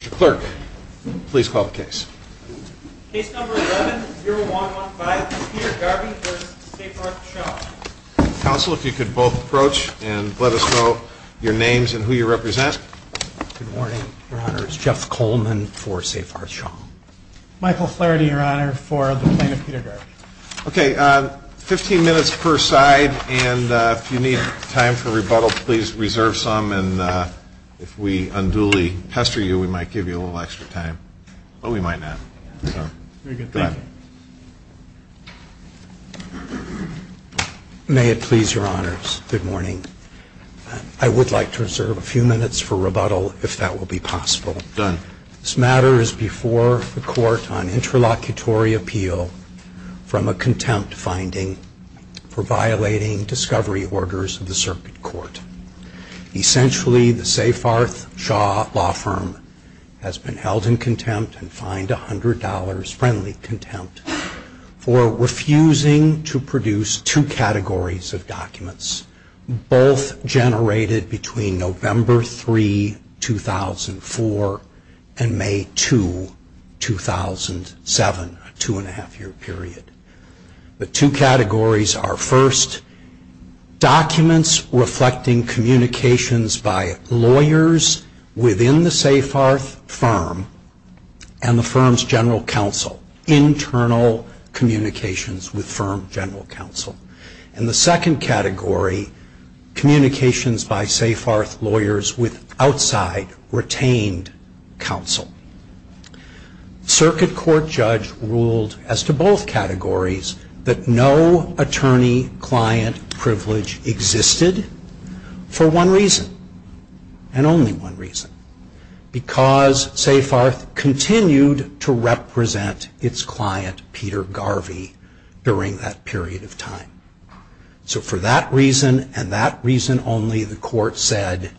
Mr. Clerk, please call the case. Case number 11-0115, Peter Garvy v. Seyfarth Shaw Counsel, if you could both approach and let us know your names and who you represent. Good morning, Your Honor. It's Jeff Coleman for Seyfarth Shaw. Michael Flaherty, Your Honor, for the plaintiff, Peter Garvy. Okay, 15 minutes per side, and if you need time for rebuttal, please reserve some, and if we unduly pester you, we might give you a little extra time, but we might not. Very good, thank you. May it please Your Honors, good morning. I would like to reserve a few minutes for rebuttal, if that will be possible. Done. This matter is before the court on interlocutory appeal from a contempt finding for violating discovery orders of the circuit court. Essentially, the Seyfarth Shaw Law Firm has been held in contempt and fined $100, friendly contempt, for refusing to produce two categories of documents, both generated between November 3, 2004, and May 2, 2007, a two and a half year period. The two categories are, first, documents reflecting communications by lawyers within the Seyfarth firm and the firm's general counsel, internal communications with firm general counsel. And the second category, communications by Seyfarth lawyers with outside retained counsel. Circuit court judge ruled as to both categories that no attorney-client privilege existed for one reason, and only one reason, because Seyfarth continued to represent its client, Peter Garvey, during that period of time. So for that reason, and that reason only, the court said,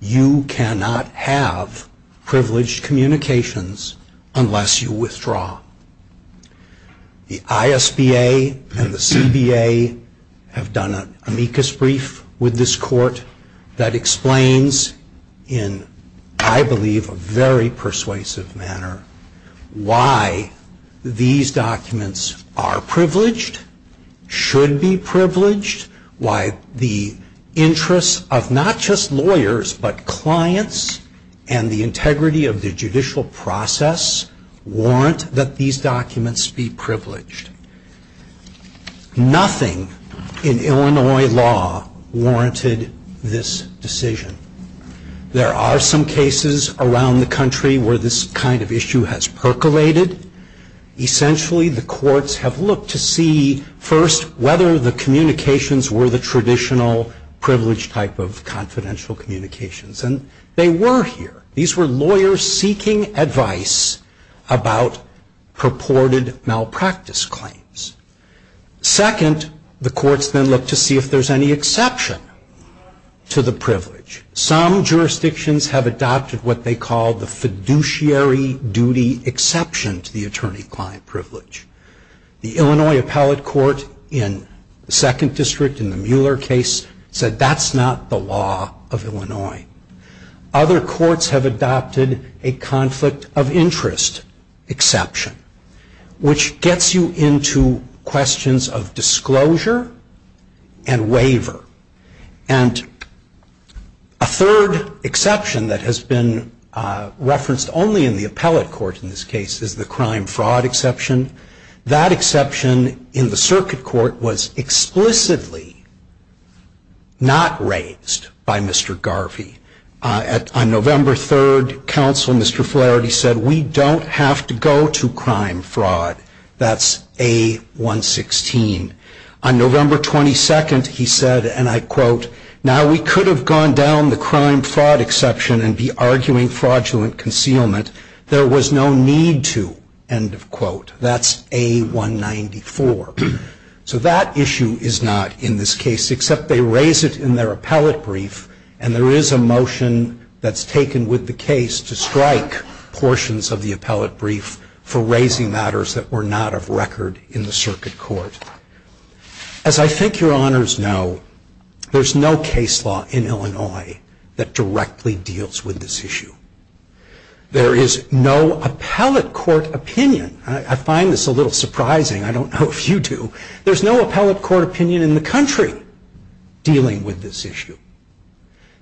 you cannot have privileged communications unless you withdraw. The ISBA and the CBA have done an amicus brief with this court that explains in, I believe, a very persuasive manner why these documents are privileged, should be privileged, why the interests of not just lawyers but clients and the integrity of the judicial process warrant that these documents be privileged. Nothing in Illinois law warranted this decision. There are some cases around the country where this kind of issue has percolated. Essentially, the courts have looked to see, first, whether the communications were the traditional privileged type of confidential communications. And they were here. These were lawyers seeking advice about purported malpractice claims. Second, the courts then looked to see if there's any exception to the privilege. Some jurisdictions have adopted what they call the fiduciary duty exception to the attorney-client privilege. The Illinois appellate court in the second district in the Mueller case said that's not the law of Illinois. Other courts have adopted a conflict of interest exception, which gets you into questions of disclosure and waiver. And a third exception that has been referenced only in the appellate court in this case is the crime-fraud exception. That exception in the circuit court was explicitly not raised by Mr. Garvey. On November 3rd, counsel, Mr. Flaherty, said we don't have to go to crime-fraud. That's A116. On November 22nd, he said, and I quote, now we could have gone down the crime-fraud exception and be arguing fraudulent concealment. There was no need to, end of quote. That's A194. So that issue is not in this case, except they raise it in their appellate brief, and there is a motion that's taken with the case to strike portions of the appellate brief for raising matters that were not of record in the circuit court. As I think your honors know, there's no case law in Illinois that directly deals with this issue. There is no appellate court opinion. I find this a little surprising. I don't know if you do. There's no appellate court opinion in the country dealing with this issue.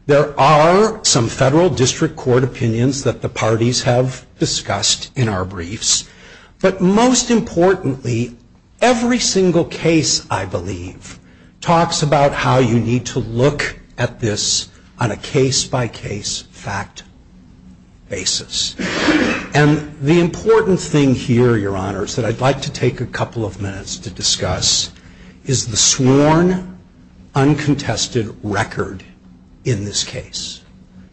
There are some federal district court opinions that the parties have discussed in our briefs, but most importantly, every single case, I believe, talks about how you need to look at this on a case-by-case fact basis. And the important thing here, your honors, that I'd like to take a couple of minutes to discuss, is the sworn, uncontested record in this case.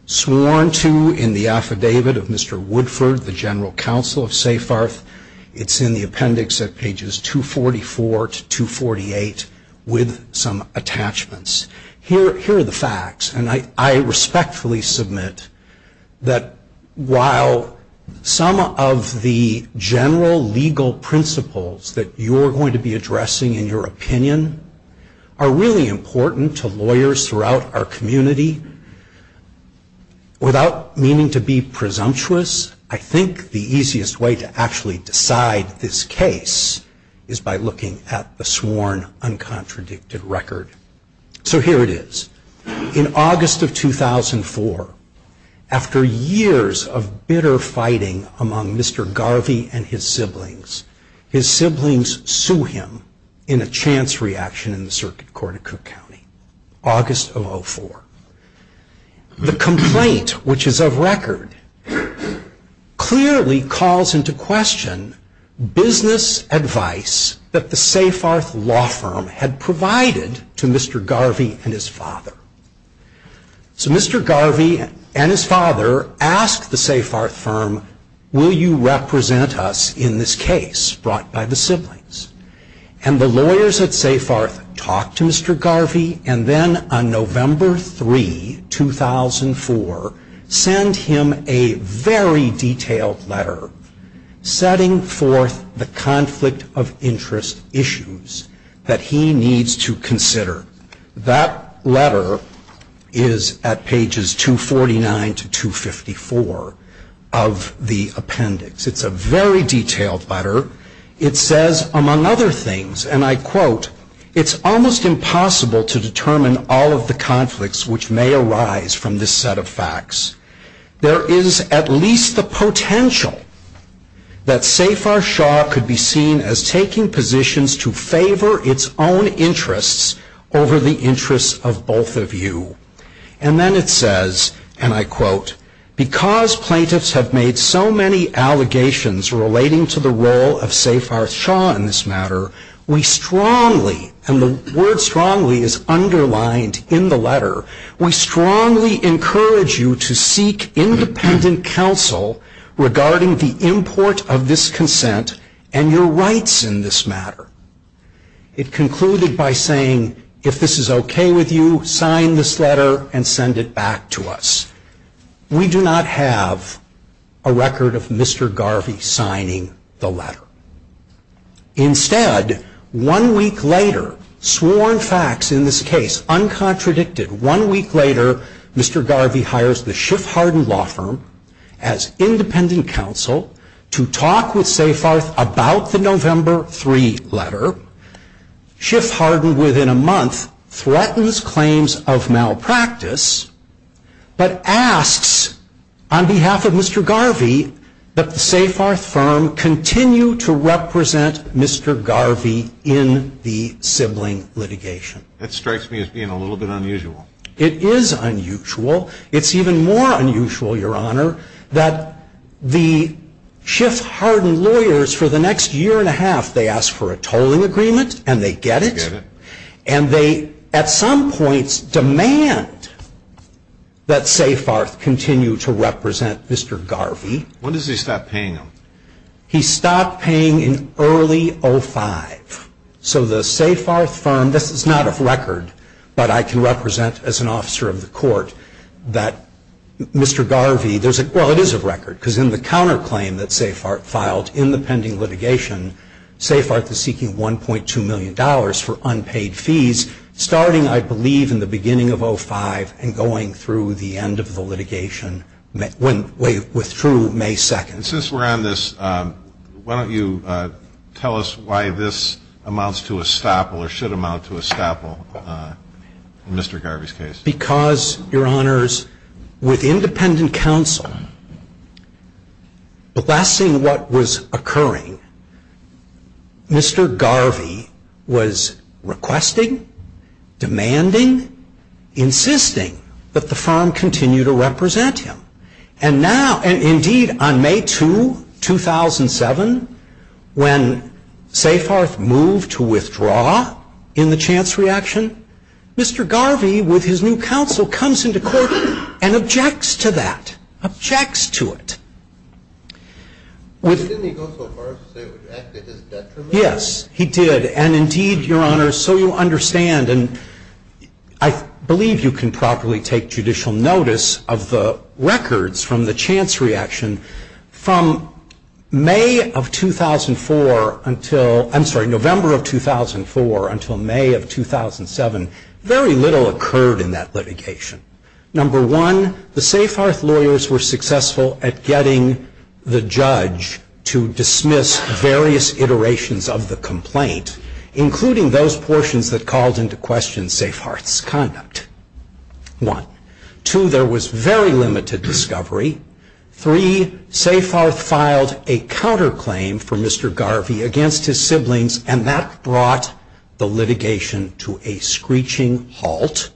Sworn to in the affidavit of Mr. Woodford, the general counsel of SafeHearth. It's in the appendix at pages 244 to 248 with some attachments. Here are the facts, and I respectfully submit that while some of the general legal principles that you're going to be addressing in your opinion are really important to lawyers throughout our community, without meaning to be presumptuous, I think the easiest way to actually decide this case is by looking at the sworn, uncontradicted record. So here it is. In August of 2004, after years of bitter fighting among Mr. Garvey and his siblings, his siblings sue him in a chance reaction in the Circuit Court of Cook County. August of 04. The complaint, which is of record, clearly calls into question business advice that the SafeHearth law firm had provided to Mr. Garvey and his father. So Mr. Garvey and his father ask the SafeHearth firm, will you represent us in this case brought by the siblings? And the lawyers at SafeHearth talk to Mr. Garvey, and then on November 3, 2004, send him a very detailed letter setting forth the conflict of interest issues that he needs to consider. That letter is at pages 249 to 254 of the appendix. It's a very detailed letter. It says, among other things, and I quote, it's almost impossible to determine all of the conflicts which may arise from this set of facts. There is at least the potential that SafeHearth Shaw could be seen as taking positions to favor its own interests over the interests of both of you. And then it says, and I quote, because plaintiffs have made so many allegations relating to the role of SafeHearth Shaw in this matter, we strongly, and the word strongly is underlined in the letter, we strongly encourage you to seek independent counsel regarding the import of this consent and your rights in this matter. It concluded by saying, if this is okay with you, sign this letter and send it back to us. We do not have a record of Mr. Garvey signing the letter. Instead, one week later, sworn facts in this case, uncontradicted, one week later, Mr. Garvey hires the Schiff Hardin Law Firm as independent counsel to talk with SafeHearth about the November 3 letter. Schiff Hardin, within a month, threatens claims of malpractice, but asks on behalf of Mr. Garvey that the SafeHearth firm continue to represent Mr. Garvey in the sibling litigation. That strikes me as being a little bit unusual. It is unusual. It is even more unusual, Your Honor, that the Schiff Hardin lawyers for the next year and a half, they ask for a tolling agreement and they get it. And they, at some points, demand that SafeHearth continue to represent Mr. Garvey. When does he stop paying them? He stopped paying in early 05. So the SafeHearth firm, this is not a record, but I can represent as an officer of the court, that Mr. Garvey, well, it is a record, because in the counterclaim that SafeHearth filed in the pending litigation, SafeHearth is seeking $1.2 million for unpaid fees, starting, I believe, in the beginning of 05 and going through the end of the litigation with true May 2nd. And since we're on this, why don't you tell us why this amounts to a staple or should amount to a staple in Mr. Garvey's case? Because, Your Honors, with independent counsel blessing what was occurring, Mr. Garvey was requesting, demanding, insisting that the firm continue to represent him. And now, indeed, on May 2, 2007, when SafeHearth moved to withdraw in the chance reaction, Mr. Garvey, with his new counsel, comes into court and objects to that, objects to it. Didn't he go so far as to say it would act as his detriment? Yes, he did. And, indeed, Your Honors, so you understand, and I believe you can properly take judicial notice of the records from the chance reaction from May of 2004 until, I'm sorry, November of 2004 until May of 2007, very little occurred in that litigation. Number one, the SafeHearth lawyers were successful at getting the judge to dismiss various iterations of the complaint, including those portions that called into question SafeHearth's conduct. One. Two, there was very limited discovery. Three, SafeHearth filed a counterclaim for Mr. Garvey against his siblings, and that brought the litigation to a screeching halt,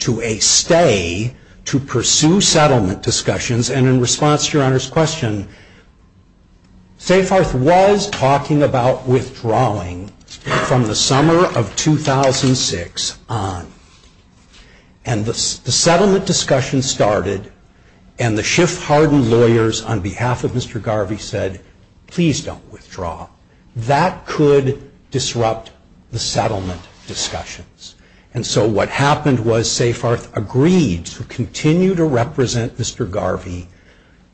to a stay, to pursue settlement discussions. And in response to Your Honor's question, SafeHearth was talking about withdrawing from the summer of 2006 on. And the settlement discussion started, and the Schiff-Hardin lawyers, on behalf of Mr. Garvey, said, please don't withdraw. That could disrupt the settlement discussions. And so what happened was SafeHearth agreed to continue to represent Mr. Garvey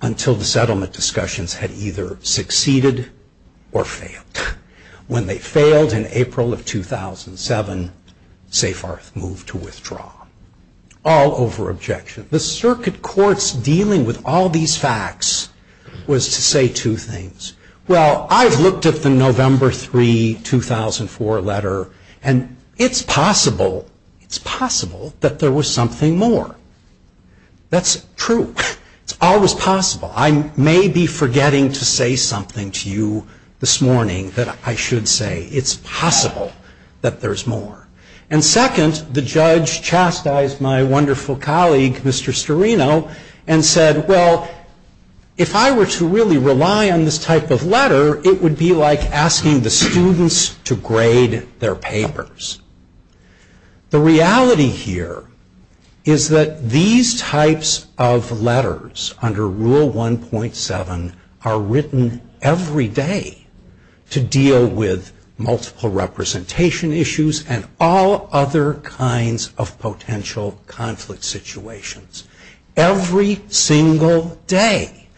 until the settlement discussions had either succeeded or failed. When they failed in April of 2007, SafeHearth moved to withdraw, all over objection. The circuit court's dealing with all these facts was to say two things. Well, I've looked at the November 3, 2004 letter, and it's possible, it's possible that there was something more. That's true. It's always possible. I may be forgetting to say something to you this morning that I should say. It's possible that there's more. And second, the judge chastised my wonderful colleague, Mr. Storino, and said, well, if I were to really rely on this type of letter, it would be like asking the students to grade their papers. The reality here is that these types of letters under Rule 1.7 are written every day to deal with multiple representation issues and all other kinds of potential conflict situations. Every single day.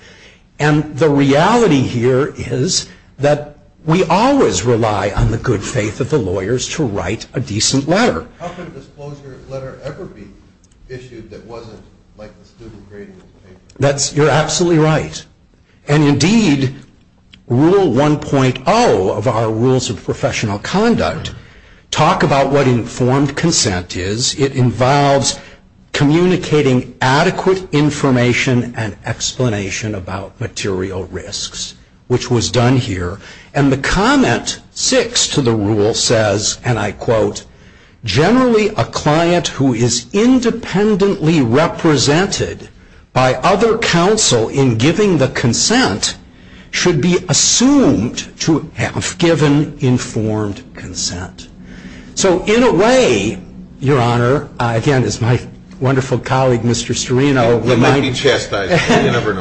And the reality here is that we always rely on the good faith of the lawyers to write a decent letter. How could a disclosure letter ever be issued that wasn't like a student grading a paper? You're absolutely right. And indeed, Rule 1.0 of our Rules of Professional Conduct talk about what informed consent is. It involves communicating adequate information and explanation about material risks, which was done here. And the comment six to the rule says, and I quote, generally a client who is independently represented by other counsel in giving the consent should be assumed to have given informed consent. So in a way, Your Honor, again, it's my wonderful colleague, Mr. Storino. He may be chastised.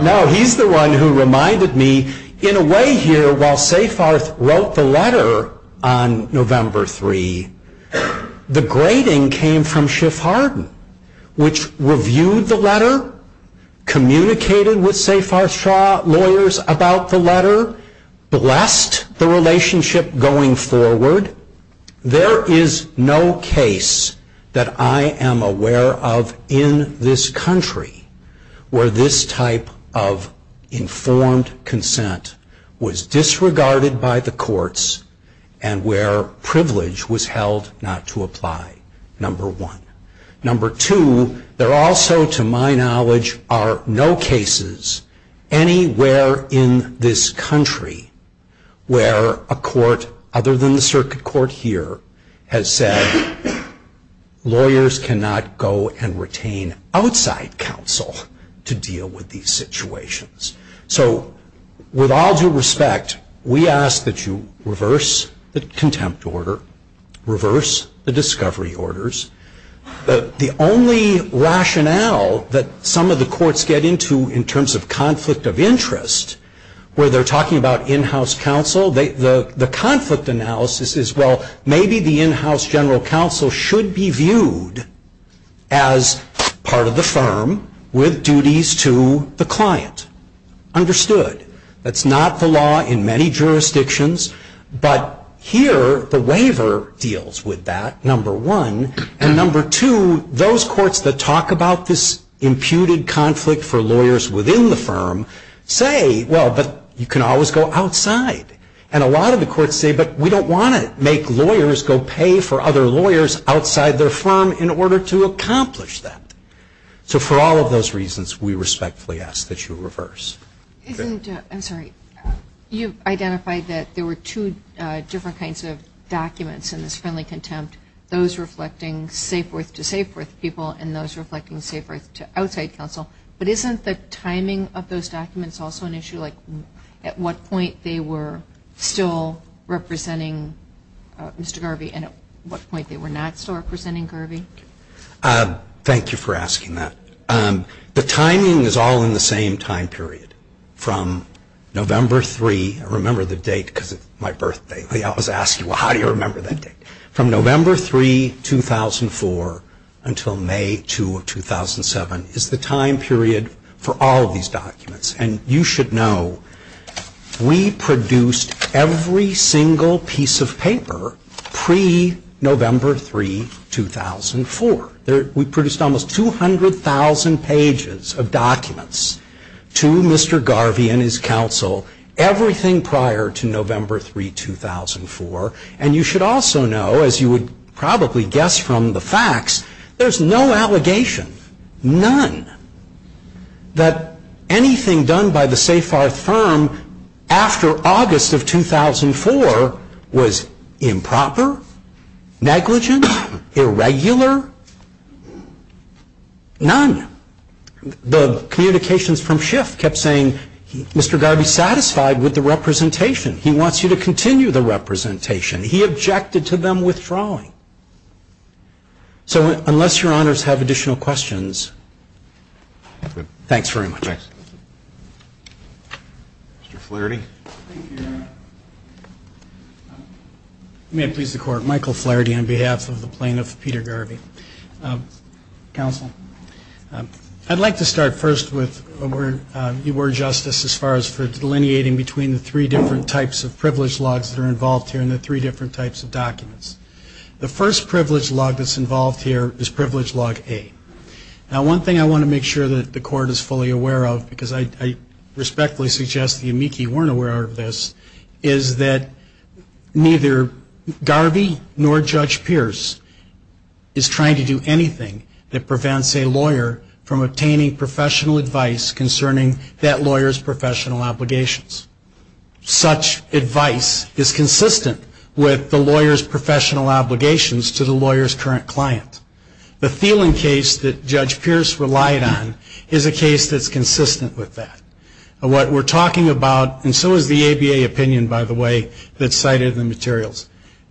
No, he's the one who reminded me, in a way here, while Safarth wrote the letter on November 3, the grading came from Schiff Hardin, which reviewed the letter, communicated with Safarth Shaw lawyers about the letter, blessed the relationship going forward. There is no case that I am aware of in this country where this type of informed consent was disregarded by the courts and where privilege was held not to apply, number one. Number two, there also, to my knowledge, are no cases anywhere in this country where a court other than the circuit court here has said lawyers cannot go and retain outside counsel to deal with these situations. So with all due respect, we ask that you reverse the contempt order, reverse the discovery orders. The only rationale that some of the courts get into in terms of conflict of interest where they're talking about in-house counsel, the conflict analysis is, well, maybe the in-house general counsel should be viewed as part of the firm with duties to the client. Understood. That's not the law in many jurisdictions, but here the waiver deals with that, number one. And number two, those courts that talk about this imputed conflict for lawyers within the firm say, well, but you can always go outside. And a lot of the courts say, but we don't want to make lawyers go pay for other lawyers outside their firm in order to accomplish that. So for all of those reasons, we respectfully ask that you reverse. I'm sorry. You've identified that there were two different kinds of documents in this friendly contempt. Those reflecting safe birth to safe birth people and those reflecting safe birth to outside counsel. But isn't the timing of those documents also an issue? Like at what point they were still representing Mr. Garvey and at what point they were not still representing Garvey? Thank you for asking that. The timing is all in the same time period from November 3. I remember the date because it's my birthday. I always ask you, well, how do you remember that date? From November 3, 2004 until May 2 of 2007 is the time period for all of these documents. And you should know we produced every single piece of paper pre-November 3, 2004. We produced almost 200,000 pages of documents to Mr. Garvey and his counsel, everything prior to November 3, 2004. And you should also know, as you would probably guess from the facts, there's no allegation, none, that anything done by the Safar firm after August of 2004 was improper, negligent, irregular, none. The communications from Schiff kept saying Mr. Garvey's satisfied with the representation. He wants you to continue the representation. He objected to them withdrawing. So unless your honors have additional questions, thanks very much. Thanks. Mr. Flaherty. Thank you, Your Honor. May it please the Court, Michael Flaherty on behalf of the plaintiff, Peter Garvey. Counsel, I'd like to start first with your word, Justice, as far as for delineating between the three different types of privilege logs that are involved here and the three different types of documents. The first privilege log that's involved here is Privilege Log A. Now, one thing I want to make sure that the Court is fully aware of, because I respectfully suggest the amici weren't aware of this, is that neither Garvey nor Judge Pierce is trying to do anything that prevents a lawyer from obtaining professional advice concerning that lawyer's professional obligations. Such advice is consistent with the lawyer's professional obligations to the lawyer's current client. The Thielen case that Judge Pierce relied on is a case that's consistent with that. What we're talking about, and so is the ABA opinion, by the way, that's cited in the materials.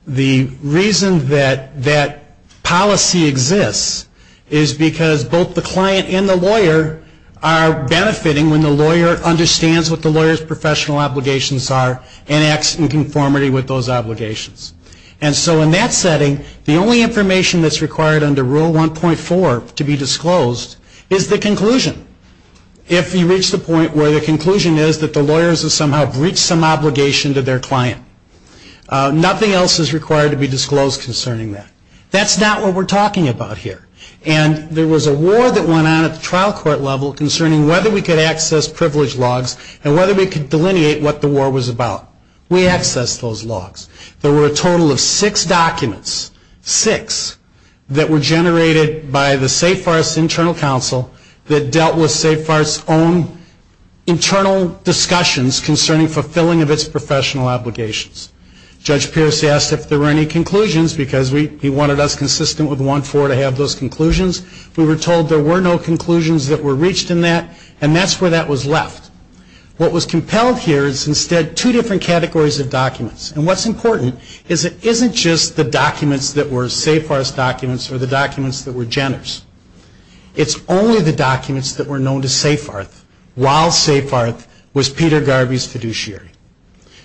The reason that that policy exists is because both the client and the lawyer are benefiting when the lawyer understands what the lawyer's professional obligations are and acts in conformity with those obligations. And so in that setting, the only information that's required under Rule 1.4 to be disclosed is the conclusion. If you reach the point where the conclusion is that the lawyers have somehow breached some obligation to their client, nothing else is required to be disclosed concerning that. That's not what we're talking about here. And there was a war that went on at the trial court level concerning whether we could access privilege logs and whether we could delineate what the war was about. We accessed those logs. There were a total of six documents, six, that were generated by the Safe Arts Internal Council that dealt with Safe Arts' own internal discussions concerning fulfilling of its professional obligations. Judge Pierce asked if there were any conclusions because he wanted us consistent with 1.4 to have those conclusions. We were told there were no conclusions that were reached in that, and that's where that was left. What was compelled here is instead two different categories of documents. And what's important is it isn't just the documents that were Safe Arts documents or the documents that were Jenner's. It's only the documents that were known to Safe Arts while Safe Arts was Peter Garvey's fiduciary.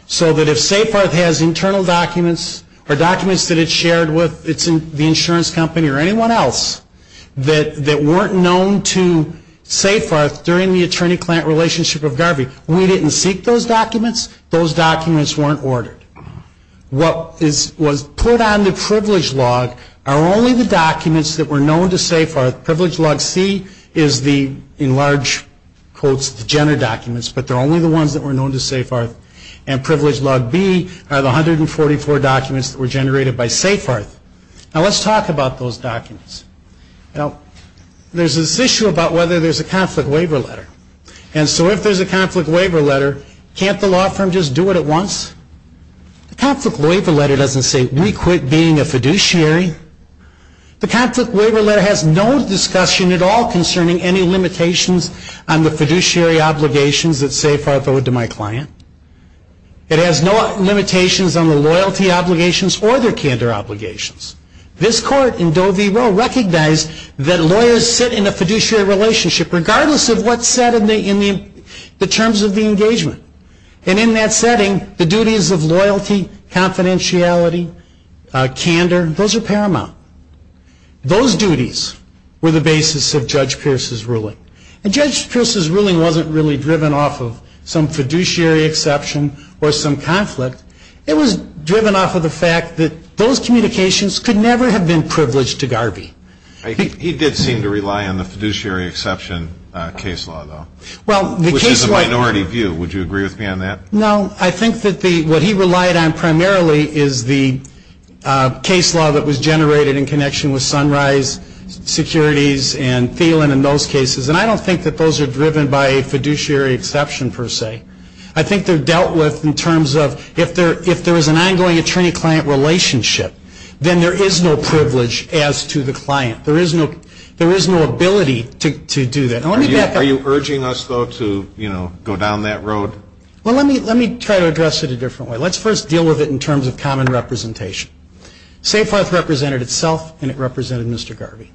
So that if Safe Arts has internal documents or documents that it shared with the insurance company or anyone else that weren't known to Safe Arts during the attorney-client relationship with Garvey, we didn't seek those documents. Those documents weren't ordered. What was put on the privilege log are only the documents that were known to Safe Arts. Privilege log C is the, in large quotes, the Jenner documents, but they're only the ones that were known to Safe Arts. And privilege log B are the 144 documents that were generated by Safe Arts. Now, let's talk about those documents. Now, there's this issue about whether there's a conflict waiver letter. And so if there's a conflict waiver letter, can't the law firm just do it at once? The conflict waiver letter doesn't say, we quit being a fiduciary. The conflict waiver letter has no discussion at all concerning any limitations on the fiduciary obligations that Safe Arts owed to my client. It has no limitations on the loyalty obligations or their candor obligations. This court in Doe v. Roe recognized that lawyers sit in a fiduciary relationship regardless of what's said in the terms of the engagement. And in that setting, the duties of loyalty, confidentiality, candor, those are paramount. Those duties were the basis of Judge Pierce's ruling. And Judge Pierce's ruling wasn't really driven off of some fiduciary exception or some conflict. It was driven off of the fact that those communications could never have been privileged to Garvey. He did seem to rely on the fiduciary exception case law, though, which is a minority view. Would you agree with me on that? No. I think that what he relied on primarily is the case law that was generated in connection with Sunrise Securities and Thielen in those cases. And I don't think that those are driven by a fiduciary exception, per se. I think they're dealt with in terms of if there is an ongoing attorney-client relationship, then there is no privilege as to the client. There is no ability to do that. Are you urging us, though, to, you know, go down that road? Well, let me try to address it a different way. Let's first deal with it in terms of common representation. SafeHearth represented itself, and it represented Mr. Garvey.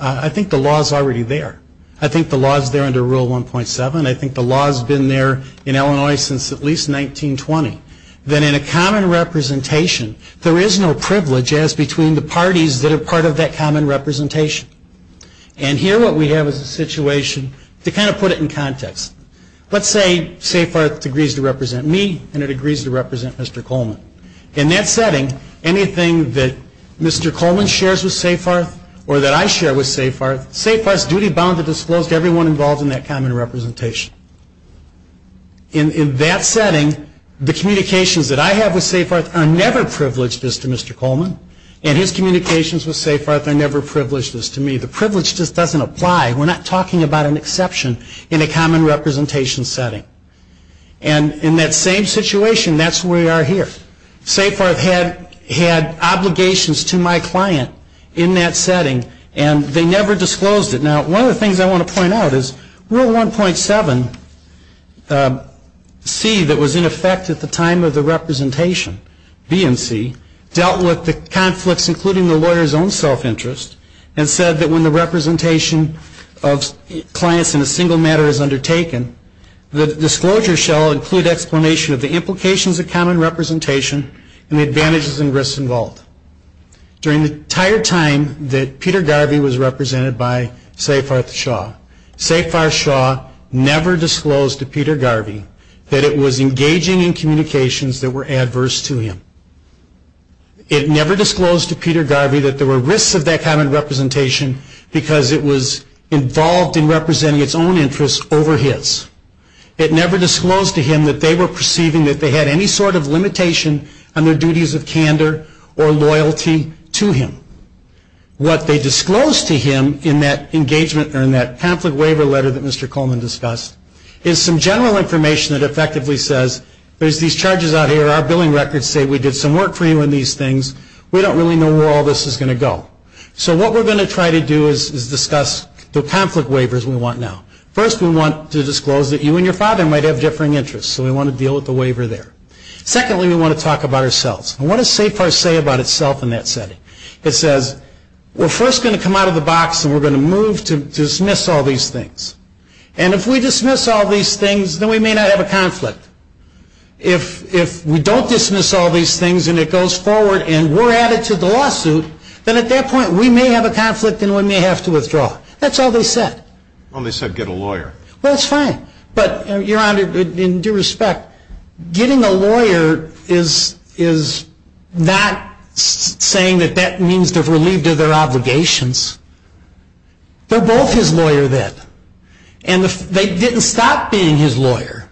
I think the law is already there. I think the law is there under Rule 1.7. I think the law has been there in Illinois since at least 1920. Then in a common representation, there is no privilege as between the parties that are part of that common representation. And here what we have is a situation to kind of put it in context. Let's say SafeHearth agrees to represent me and it agrees to represent Mr. Coleman. In that setting, anything that Mr. Coleman shares with SafeHearth or that I share with SafeHearth, SafeHearth's duty bound to disclose to everyone involved in that common representation. In that setting, the communications that I have with SafeHearth are never privileged as to Mr. Coleman, and his communications with SafeHearth are never privileged as to me. The privilege just doesn't apply. We're not talking about an exception in a common representation setting. And in that same situation, that's where we are here. SafeHearth had obligations to my client in that setting, and they never disclosed it. Now, one of the things I want to point out is Rule 1.7C that was in effect at the time of the representation, B and C, dealt with the conflicts including the lawyer's own self-interest, and said that when the representation of clients in a single matter is undertaken, the disclosure shall include explanation of the implications of common representation and the advantages and risks involved. During the entire time that Peter Garvey was represented by SafeHearth Shaw, SafeHearth Shaw never disclosed to Peter Garvey that it was engaging in communications that were adverse to him. It never disclosed to Peter Garvey that there were risks of that common representation because it was involved in representing its own interests over his. It never disclosed to him that they were perceiving that they had any sort of limitation on their duties of candor or loyalty to him. What they disclosed to him in that conflict waiver letter that Mr. Coleman discussed is some general information that effectively says there's these charges out here, our billing records say we did some work for you on these things, we don't really know where all this is going to go. So what we're going to try to do is discuss the conflict waivers we want now. First, we want to disclose that you and your father might have differing interests, so we want to deal with the waiver there. Secondly, we want to talk about ourselves. What does SafeHearth say about itself in that setting? It says we're first going to come out of the box and we're going to move to dismiss all these things. And if we dismiss all these things, then we may not have a conflict. If we don't dismiss all these things and it goes forward and we're added to the lawsuit, then at that point we may have a conflict and we may have to withdraw. That's all they said. Well, they said get a lawyer. Well, that's fine. But, Your Honor, in due respect, getting a lawyer is not saying that that means they're relieved of their obligations. They're both his lawyer then. And they didn't stop being his lawyer.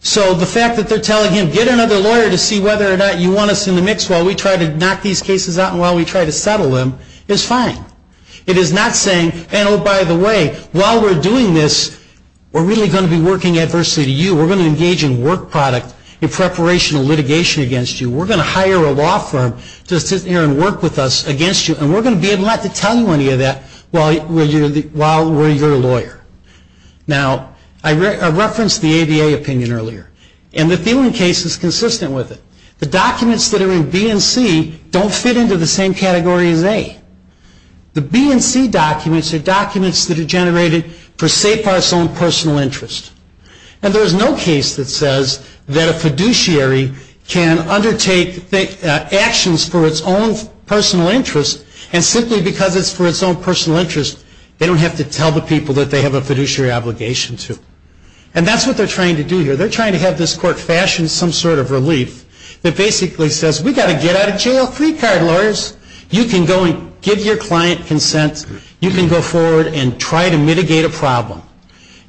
So the fact that they're telling him get another lawyer to see whether or not you want us in the mix while we try to knock these cases out and while we try to settle them is fine. It is not saying, oh, by the way, while we're doing this, we're really going to be working adversely to you. We're going to engage in work product in preparation of litigation against you. We're going to hire a law firm to sit here and work with us against you. And we're going to be able not to tell you any of that while we're your lawyer. Now, I referenced the ABA opinion earlier. And the Thielen case is consistent with it. The documents that are in B and C don't fit into the same category as A. The B and C documents are documents that are generated for SEPAR's own personal interest. And there's no case that says that a fiduciary can undertake actions for its own personal interest and simply because it's for its own personal interest, they don't have to tell the people that they have a fiduciary obligation to. And that's what they're trying to do here. They're trying to have this court fashion some sort of relief that basically says, we've got to get out of jail free card, lawyers. You can go and give your client consent. You can go forward and try to mitigate a problem.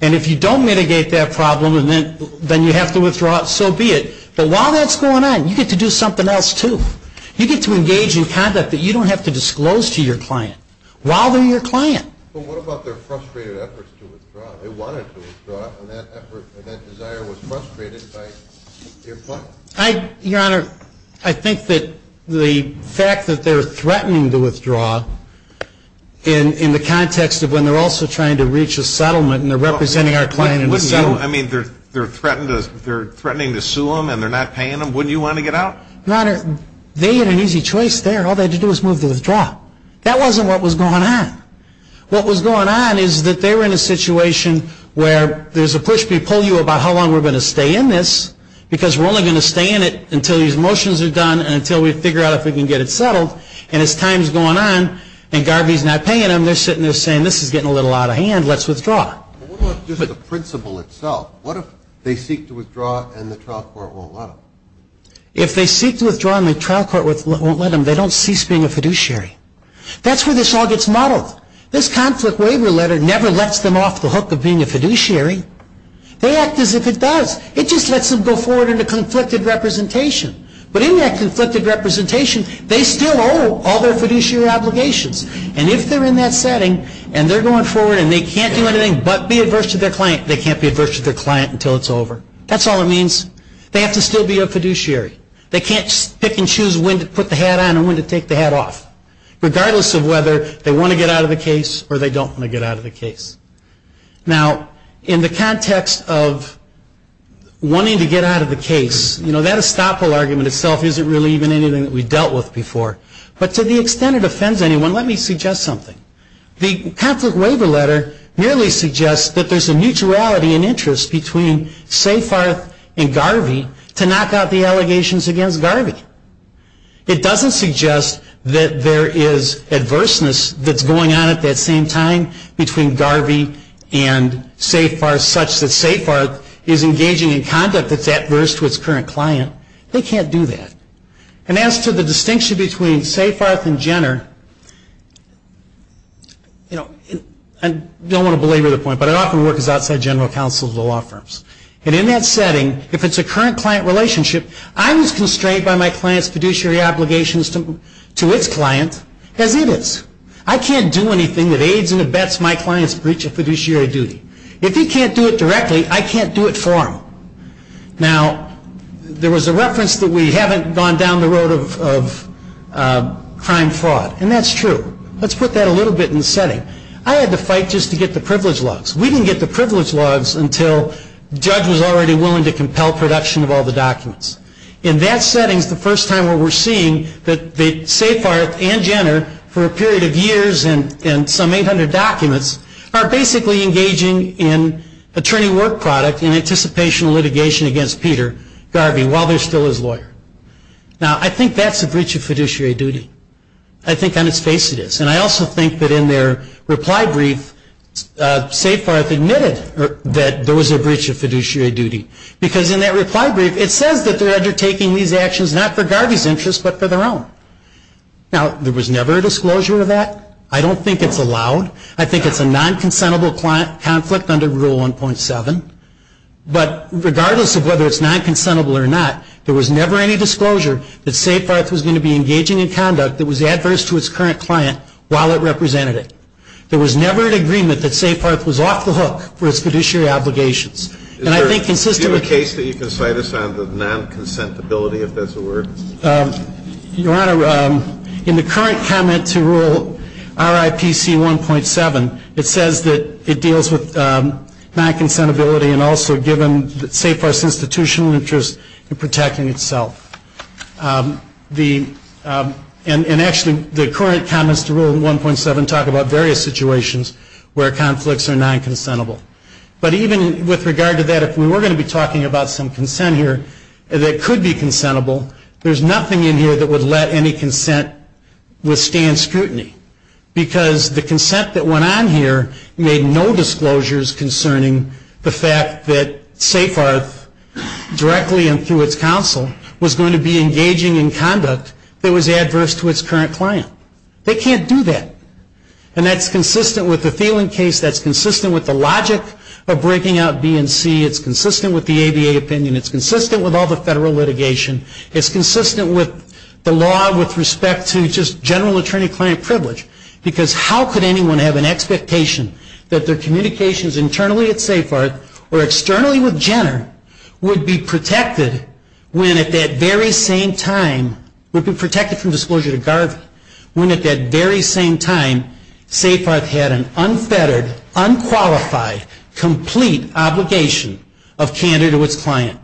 And if you don't mitigate that problem, then you have to withdraw. So be it. But while that's going on, you get to do something else, too. You get to engage in conduct that you don't have to disclose to your client while they're your client. But what about their frustrated efforts to withdraw? They wanted to withdraw, and that effort and that desire was frustrated by your client. Your Honor, I think that the fact that they're threatening to withdraw in the context of when they're also trying to reach a settlement and they're representing our client in the settlement. I mean, they're threatening to sue them and they're not paying them. Wouldn't you want to get out? Your Honor, they had an easy choice there. All they had to do was move to withdraw. That wasn't what was going on. What was going on is that they were in a situation where there's a push-me-pull-you about how long we're going to stay in this because we're only going to stay in it until these motions are done and until we figure out if we can get it settled. And as time's going on and Garvey's not paying them, they're sitting there saying, this is getting a little out of hand, let's withdraw. But what about just the principle itself? What if they seek to withdraw and the trial court won't let them? If they seek to withdraw and the trial court won't let them, they don't cease being a fiduciary. That's where this all gets modeled. This conflict waiver letter never lets them off the hook of being a fiduciary. They act as if it does. It just lets them go forward in a conflicted representation. But in that conflicted representation, they still owe all their fiduciary obligations. And if they're in that setting and they're going forward and they can't do anything but be adverse to their client, they can't be adverse to their client until it's over. That's all it means. They have to still be a fiduciary. They can't pick and choose when to put the hat on and when to take the hat off, regardless of whether they want to get out of the case or they don't want to get out of the case. Now, in the context of wanting to get out of the case, that estoppel argument itself isn't really even anything that we've dealt with before. But to the extent it offends anyone, let me suggest something. The conflict waiver letter merely suggests that there's a mutuality in interest between Safarth and Garvey to knock out the allegations against Garvey. It doesn't suggest that there is adverseness that's going on at that same time between Garvey and Safarth, such that Safarth is engaging in conduct that's adverse to its current client. They can't do that. And as to the distinction between Safarth and Jenner, you know, I don't want to belabor the point, but I often work as outside general counsel to the law firms. And in that setting, if it's a current client relationship, I was constrained by my client's fiduciary obligations to its client as it is. I can't do anything that aids and abets my client's breach of fiduciary duty. If he can't do it directly, I can't do it for him. Now, there was a reference that we haven't gone down the road of crime fraud, and that's true. Let's put that a little bit in the setting. I had to fight just to get the privilege logs. We didn't get the privilege logs until Judge was already willing to compel production of all the documents. In that setting is the first time where we're seeing that Safarth and Jenner, for a period of years and some 800 documents, are basically engaging in attorney work product in anticipation of litigation against Peter Garvey while they're still his lawyer. Now, I think that's a breach of fiduciary duty. I think on its face it is. And I also think that in their reply brief, Safarth admitted that there was a breach of fiduciary duty. Because in that reply brief, it says that they're undertaking these actions not for Garvey's interest but for their own. Now, there was never a disclosure of that. I don't think it's allowed. I think it's a non-consentable conflict under Rule 1.7. But regardless of whether it's non-consentable or not, there was never any disclosure that Safarth was going to be engaging in conduct that was adverse to its current client while it represented it. There was never an agreement that Safarth was off the hook for its fiduciary obligations. And I think consistently- Do you have a case that you can cite us on the non-consentability, if that's a word? Your Honor, in the current comment to Rule RIPC 1.7, it says that it deals with non-consentability and also given Safarth's institutional interest in protecting itself. And actually, the current comments to Rule 1.7 talk about various situations where conflicts are non-consentable. But even with regard to that, if we were going to be talking about some consent here that could be consentable, there's nothing in here that would let any consent withstand scrutiny. Because the consent that went on here made no disclosures concerning the fact that Safarth, directly and through its counsel, was going to be engaging in conduct that was adverse to its current client. They can't do that. And that's consistent with the Thielen case. That's consistent with the logic of breaking out B and C. It's consistent with the ABA opinion. It's consistent with all the federal litigation. It's consistent with the law with respect to just general attorney-client privilege. Because how could anyone have an expectation that their communications internally at Safarth or externally with Jenner would be protected when at that very same time, would be protected from disclosure to Garvey, when at that very same time, Safarth had an unfettered, unqualified, complete obligation of candor to its client.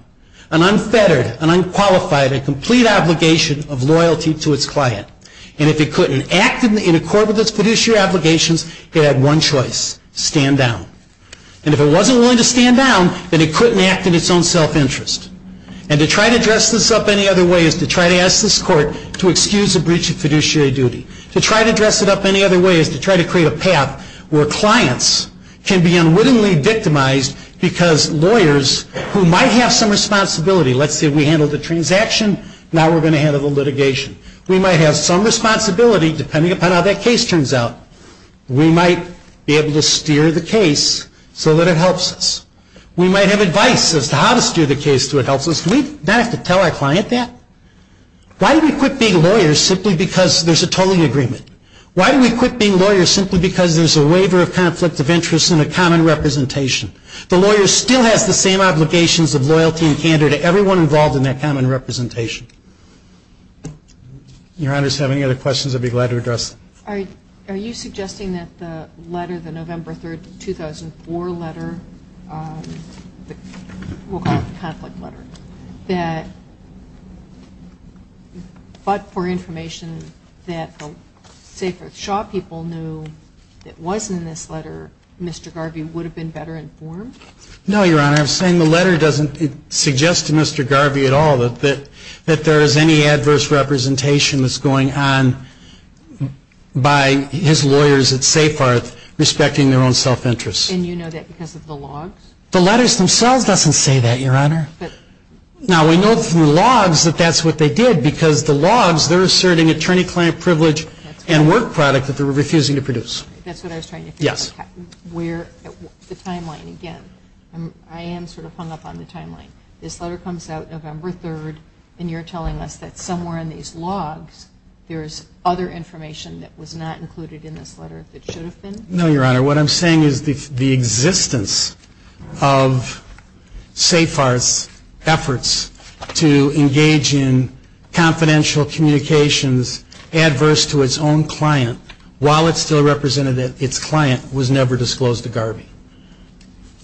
An unfettered, an unqualified, a complete obligation of loyalty to its client. And if it couldn't act in accord with its fiduciary obligations, it had one choice, stand down. And if it wasn't willing to stand down, then it couldn't act in its own self-interest. And to try to dress this up any other way is to try to ask this court to excuse a breach of fiduciary duty. To try to dress it up any other way is to try to create a path where clients can be unwittingly victimized because lawyers who might have some responsibility, let's say we handled the transaction, now we're going to handle the litigation. We might have some responsibility, depending upon how that case turns out, we might be able to steer the case so that it helps us. We might have advice as to how to steer the case so it helps us. Do we not have to tell our client that? Why do we quit being lawyers simply because there's a tolling agreement? Why do we quit being lawyers simply because there's a waiver of conflict of interest and a common representation? The lawyer still has the same obligations of loyalty and candor to everyone involved in that common representation. Your Honor, if you have any other questions, I'd be glad to address them. All right. Are you suggesting that the letter, the November 3, 2004 letter, we'll call it the conflict letter, that but for information that the Safer Shaw people knew that wasn't in this letter, Mr. Garvey would have been better informed? No, Your Honor. I'm saying the letter doesn't suggest to Mr. Garvey at all that there is any adverse representation that's going on by his lawyers at SafeHeart respecting their own self-interest. And you know that because of the logs? The letters themselves doesn't say that, Your Honor. Now, we know from the logs that that's what they did because the logs, they're asserting attorney-client privilege and work product that they're refusing to produce. That's what I was trying to figure out. Yes. Where, the timeline again. I am sort of hung up on the timeline. This letter comes out November 3, and you're telling us that somewhere in these logs there is other information that was not included in this letter that should have been? No, Your Honor. What I'm saying is the existence of SafeHeart's efforts to engage in confidential communications adverse to its own client while it still represented that its client was never disclosed to Garvey.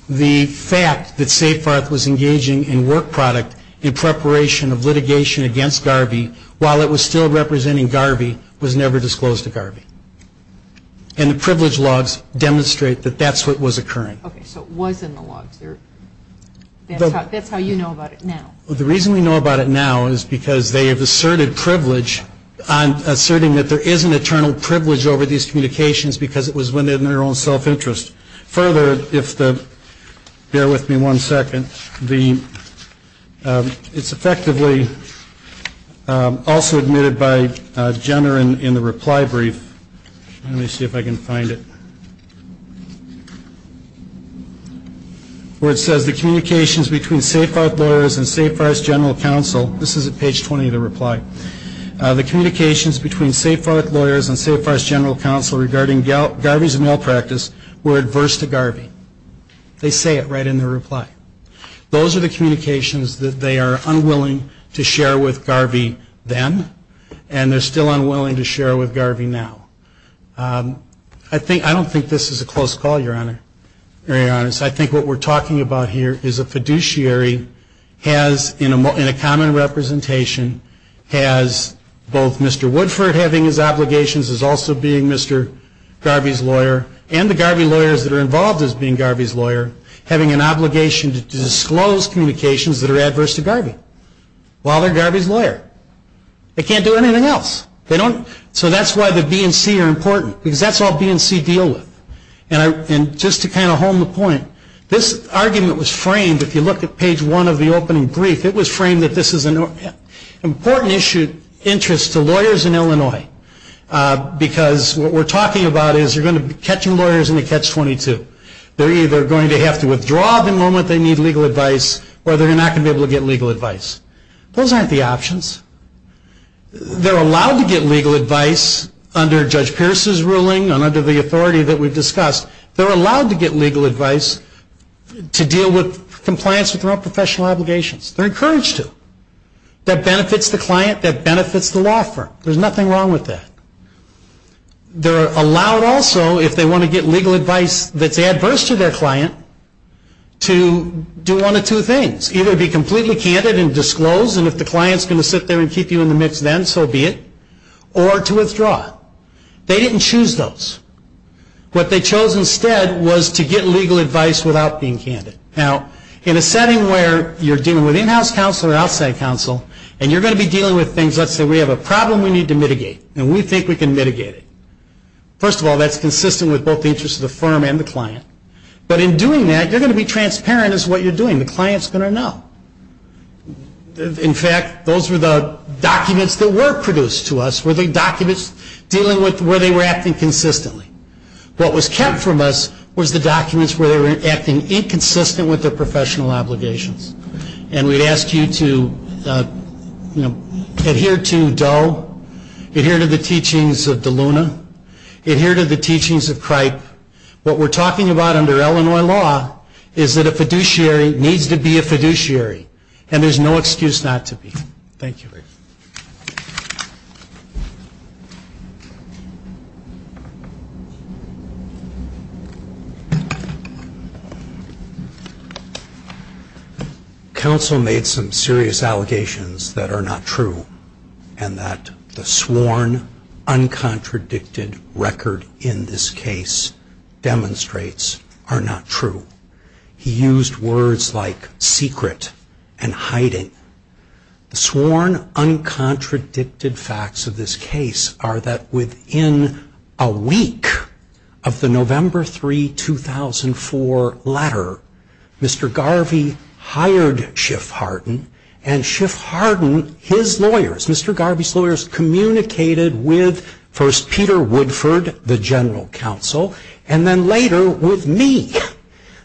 The fact that SafeHeart was engaging in work product in preparation of litigation against Garvey while it was still representing Garvey was never disclosed to Garvey. And the privilege logs demonstrate that that's what was occurring. Okay, so it was in the logs. That's how you know about it now. The reason we know about it now is because they have asserted privilege, asserting that there is an eternal privilege over these communications because it was within their own self-interest. Further, if the, bear with me one second, the, it's effectively also admitted by Jenner in the reply brief. Let me see if I can find it. Where it says the communications between SafeHeart lawyers and SafeHeart's general counsel. This is at page 20 of the reply. The communications between SafeHeart lawyers and SafeHeart's general counsel regarding Garvey's malpractice were adverse to Garvey. They say it right in their reply. Those are the communications that they are unwilling to share with Garvey then and they're still unwilling to share with Garvey now. I don't think this is a close call, Your Honor, to be very honest. I think what we're talking about here is a fiduciary has, in a common representation, has both Mr. Woodford having his obligations as also being Mr. Garvey's lawyer and the Garvey lawyers that are involved as being Garvey's lawyer having an obligation to disclose communications that are adverse to Garvey while they're Garvey's lawyer. They can't do anything else. So that's why the B and C are important because that's all B and C deal with. And just to kind of hone the point, this argument was framed, if you look at page one of the opening brief, it was framed that this is an important interest to lawyers in Illinois because what we're talking about is you're going to be catching lawyers in a catch-22. They're either going to have to withdraw the moment they need legal advice or they're not going to be able to get legal advice. Those aren't the options. They're allowed to get legal advice under Judge Pierce's ruling and under the authority that we've discussed. They're allowed to get legal advice to deal with compliance with their own professional obligations. They're encouraged to. That benefits the client. That benefits the law firm. There's nothing wrong with that. They're allowed also, if they want to get legal advice that's adverse to their client, to do one of two things, either be completely candid and disclose and if the client's going to sit there and keep you in the mix then, so be it, or to withdraw. They didn't choose those. What they chose instead was to get legal advice without being candid. Now, in a setting where you're dealing with in-house counsel or outside counsel and you're going to be dealing with things, let's say we have a problem we need to mitigate and we think we can mitigate it. First of all, that's consistent with both the interests of the firm and the client. But in doing that, you're going to be transparent as to what you're doing. The client's going to know. In fact, those were the documents that were produced to us were the documents dealing with where they were acting consistently. What was kept from us was the documents where they were acting inconsistent with their professional obligations. And we'd ask you to adhere to DoE, adhere to the teachings of DeLuna, adhere to the teachings of CRIPE. What we're talking about under Illinois law is that a fiduciary needs to be a fiduciary and there's no excuse not to be. Thank you. Counsel made some serious allegations that are not true and that the sworn, uncontradicted record in this case demonstrates are not true. He used words like secret and hiding. The sworn, uncontradicted facts of this case are that within a week of the November 3, 2004 letter, Mr. Garvey hired Schiff Hardin and Schiff Hardin, his lawyers, Mr. Garvey's lawyers communicated with first Peter Woodford, the general counsel, and then later with me.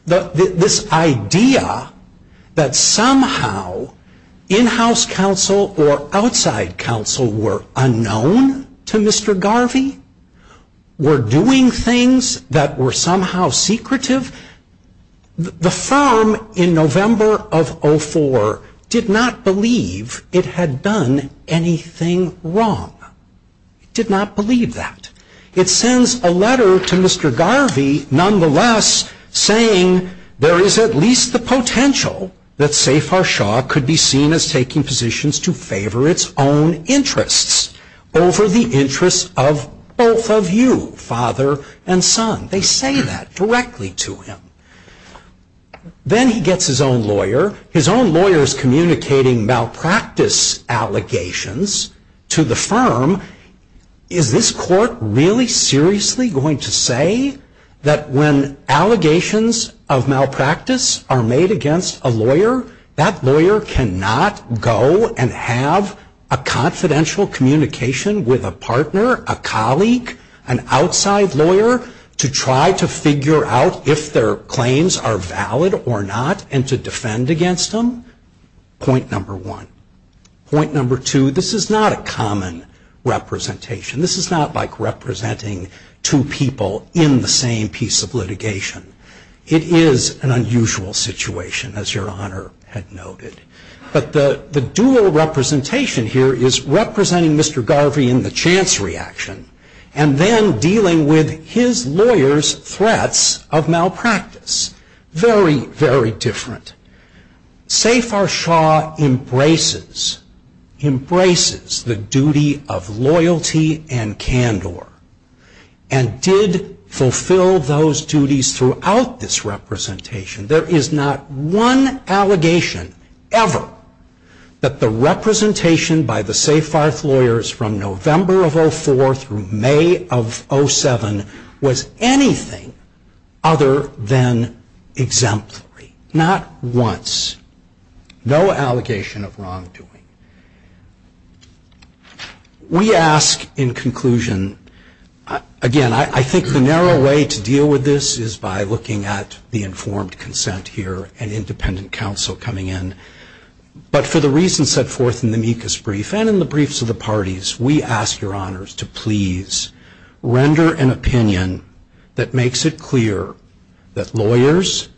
This idea that somehow in-house counsel or outside counsel were unknown to Mr. Garvey, were doing things that were somehow secretive, the firm in November of 2004 did not believe it had done anything wrong. It did not believe that. It sends a letter to Mr. Garvey, nonetheless, saying there is at least the potential that Safer Shaw could be seen as taking positions to favor its own interests over the interests of both of you, father and son. They say that directly to him. Then he gets his own lawyer. His own lawyer is communicating malpractice allegations to the firm. Is this court really seriously going to say that when allegations of malpractice are made against a lawyer, that lawyer cannot go and have a confidential communication with a partner, a colleague, an outside lawyer, to try to figure out if their claims are valid or not and to defend against them? Point number one. Point number two, this is not a common representation. This is not like representing two people in the same piece of litigation. It is an unusual situation, as your Honor had noted. But the dual representation here is representing Mr. Garvey in the chance reaction and then dealing with his lawyer's threats of malpractice. Very, very different. Safer Shaw embraces the duty of loyalty and candor and did fulfill those duties throughout this representation. There is not one allegation ever that the representation by the Safarth lawyers from November of 04 through May of 07 was anything other than exemplary. Not once. No allegation of wrongdoing. We ask in conclusion, again, I think the narrow way to deal with this is by looking at the informed consent here and independent counsel coming in. But for the reasons set forth in the Mikas brief and in the briefs of the parties, we ask your Honors to please render an opinion that makes it clear that lawyers,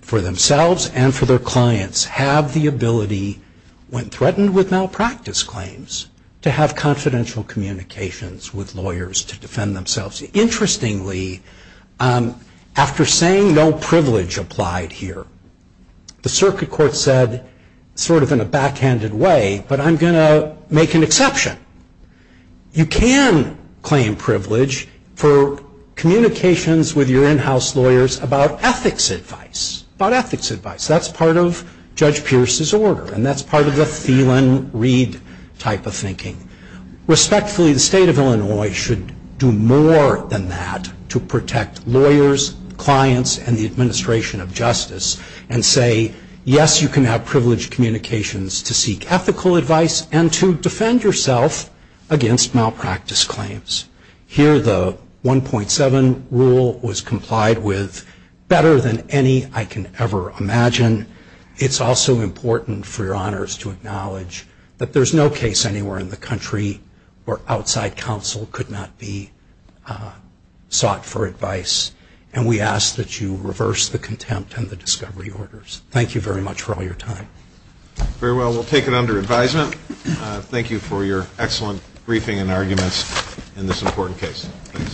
for themselves and for their clients, have the ability when threatened with malpractice claims to have confidential communications with lawyers to defend themselves. Interestingly, after saying no privilege applied here, the Circuit Court said, sort of in a backhanded way, but I'm going to make an exception. You can claim privilege for communications with your in-house lawyers about ethics advice. About ethics advice. That's part of Judge Pierce's order. And that's part of the Thielen-Reed type of thinking. Respectfully, the state of Illinois should do more than that to protect lawyers, clients, and the administration of justice and say, yes, you can have privileged communications to seek ethical advice and to defend yourself against malpractice claims. Here the 1.7 rule was complied with better than any I can ever imagine. It's also important for your Honors to acknowledge that there's no case anywhere in the country where outside counsel could not be sought for advice. And we ask that you reverse the contempt and the discovery orders. Thank you very much for all your time. Very well, we'll take it under advisement. Thank you for your excellent briefing and arguments in this important case. Thanks.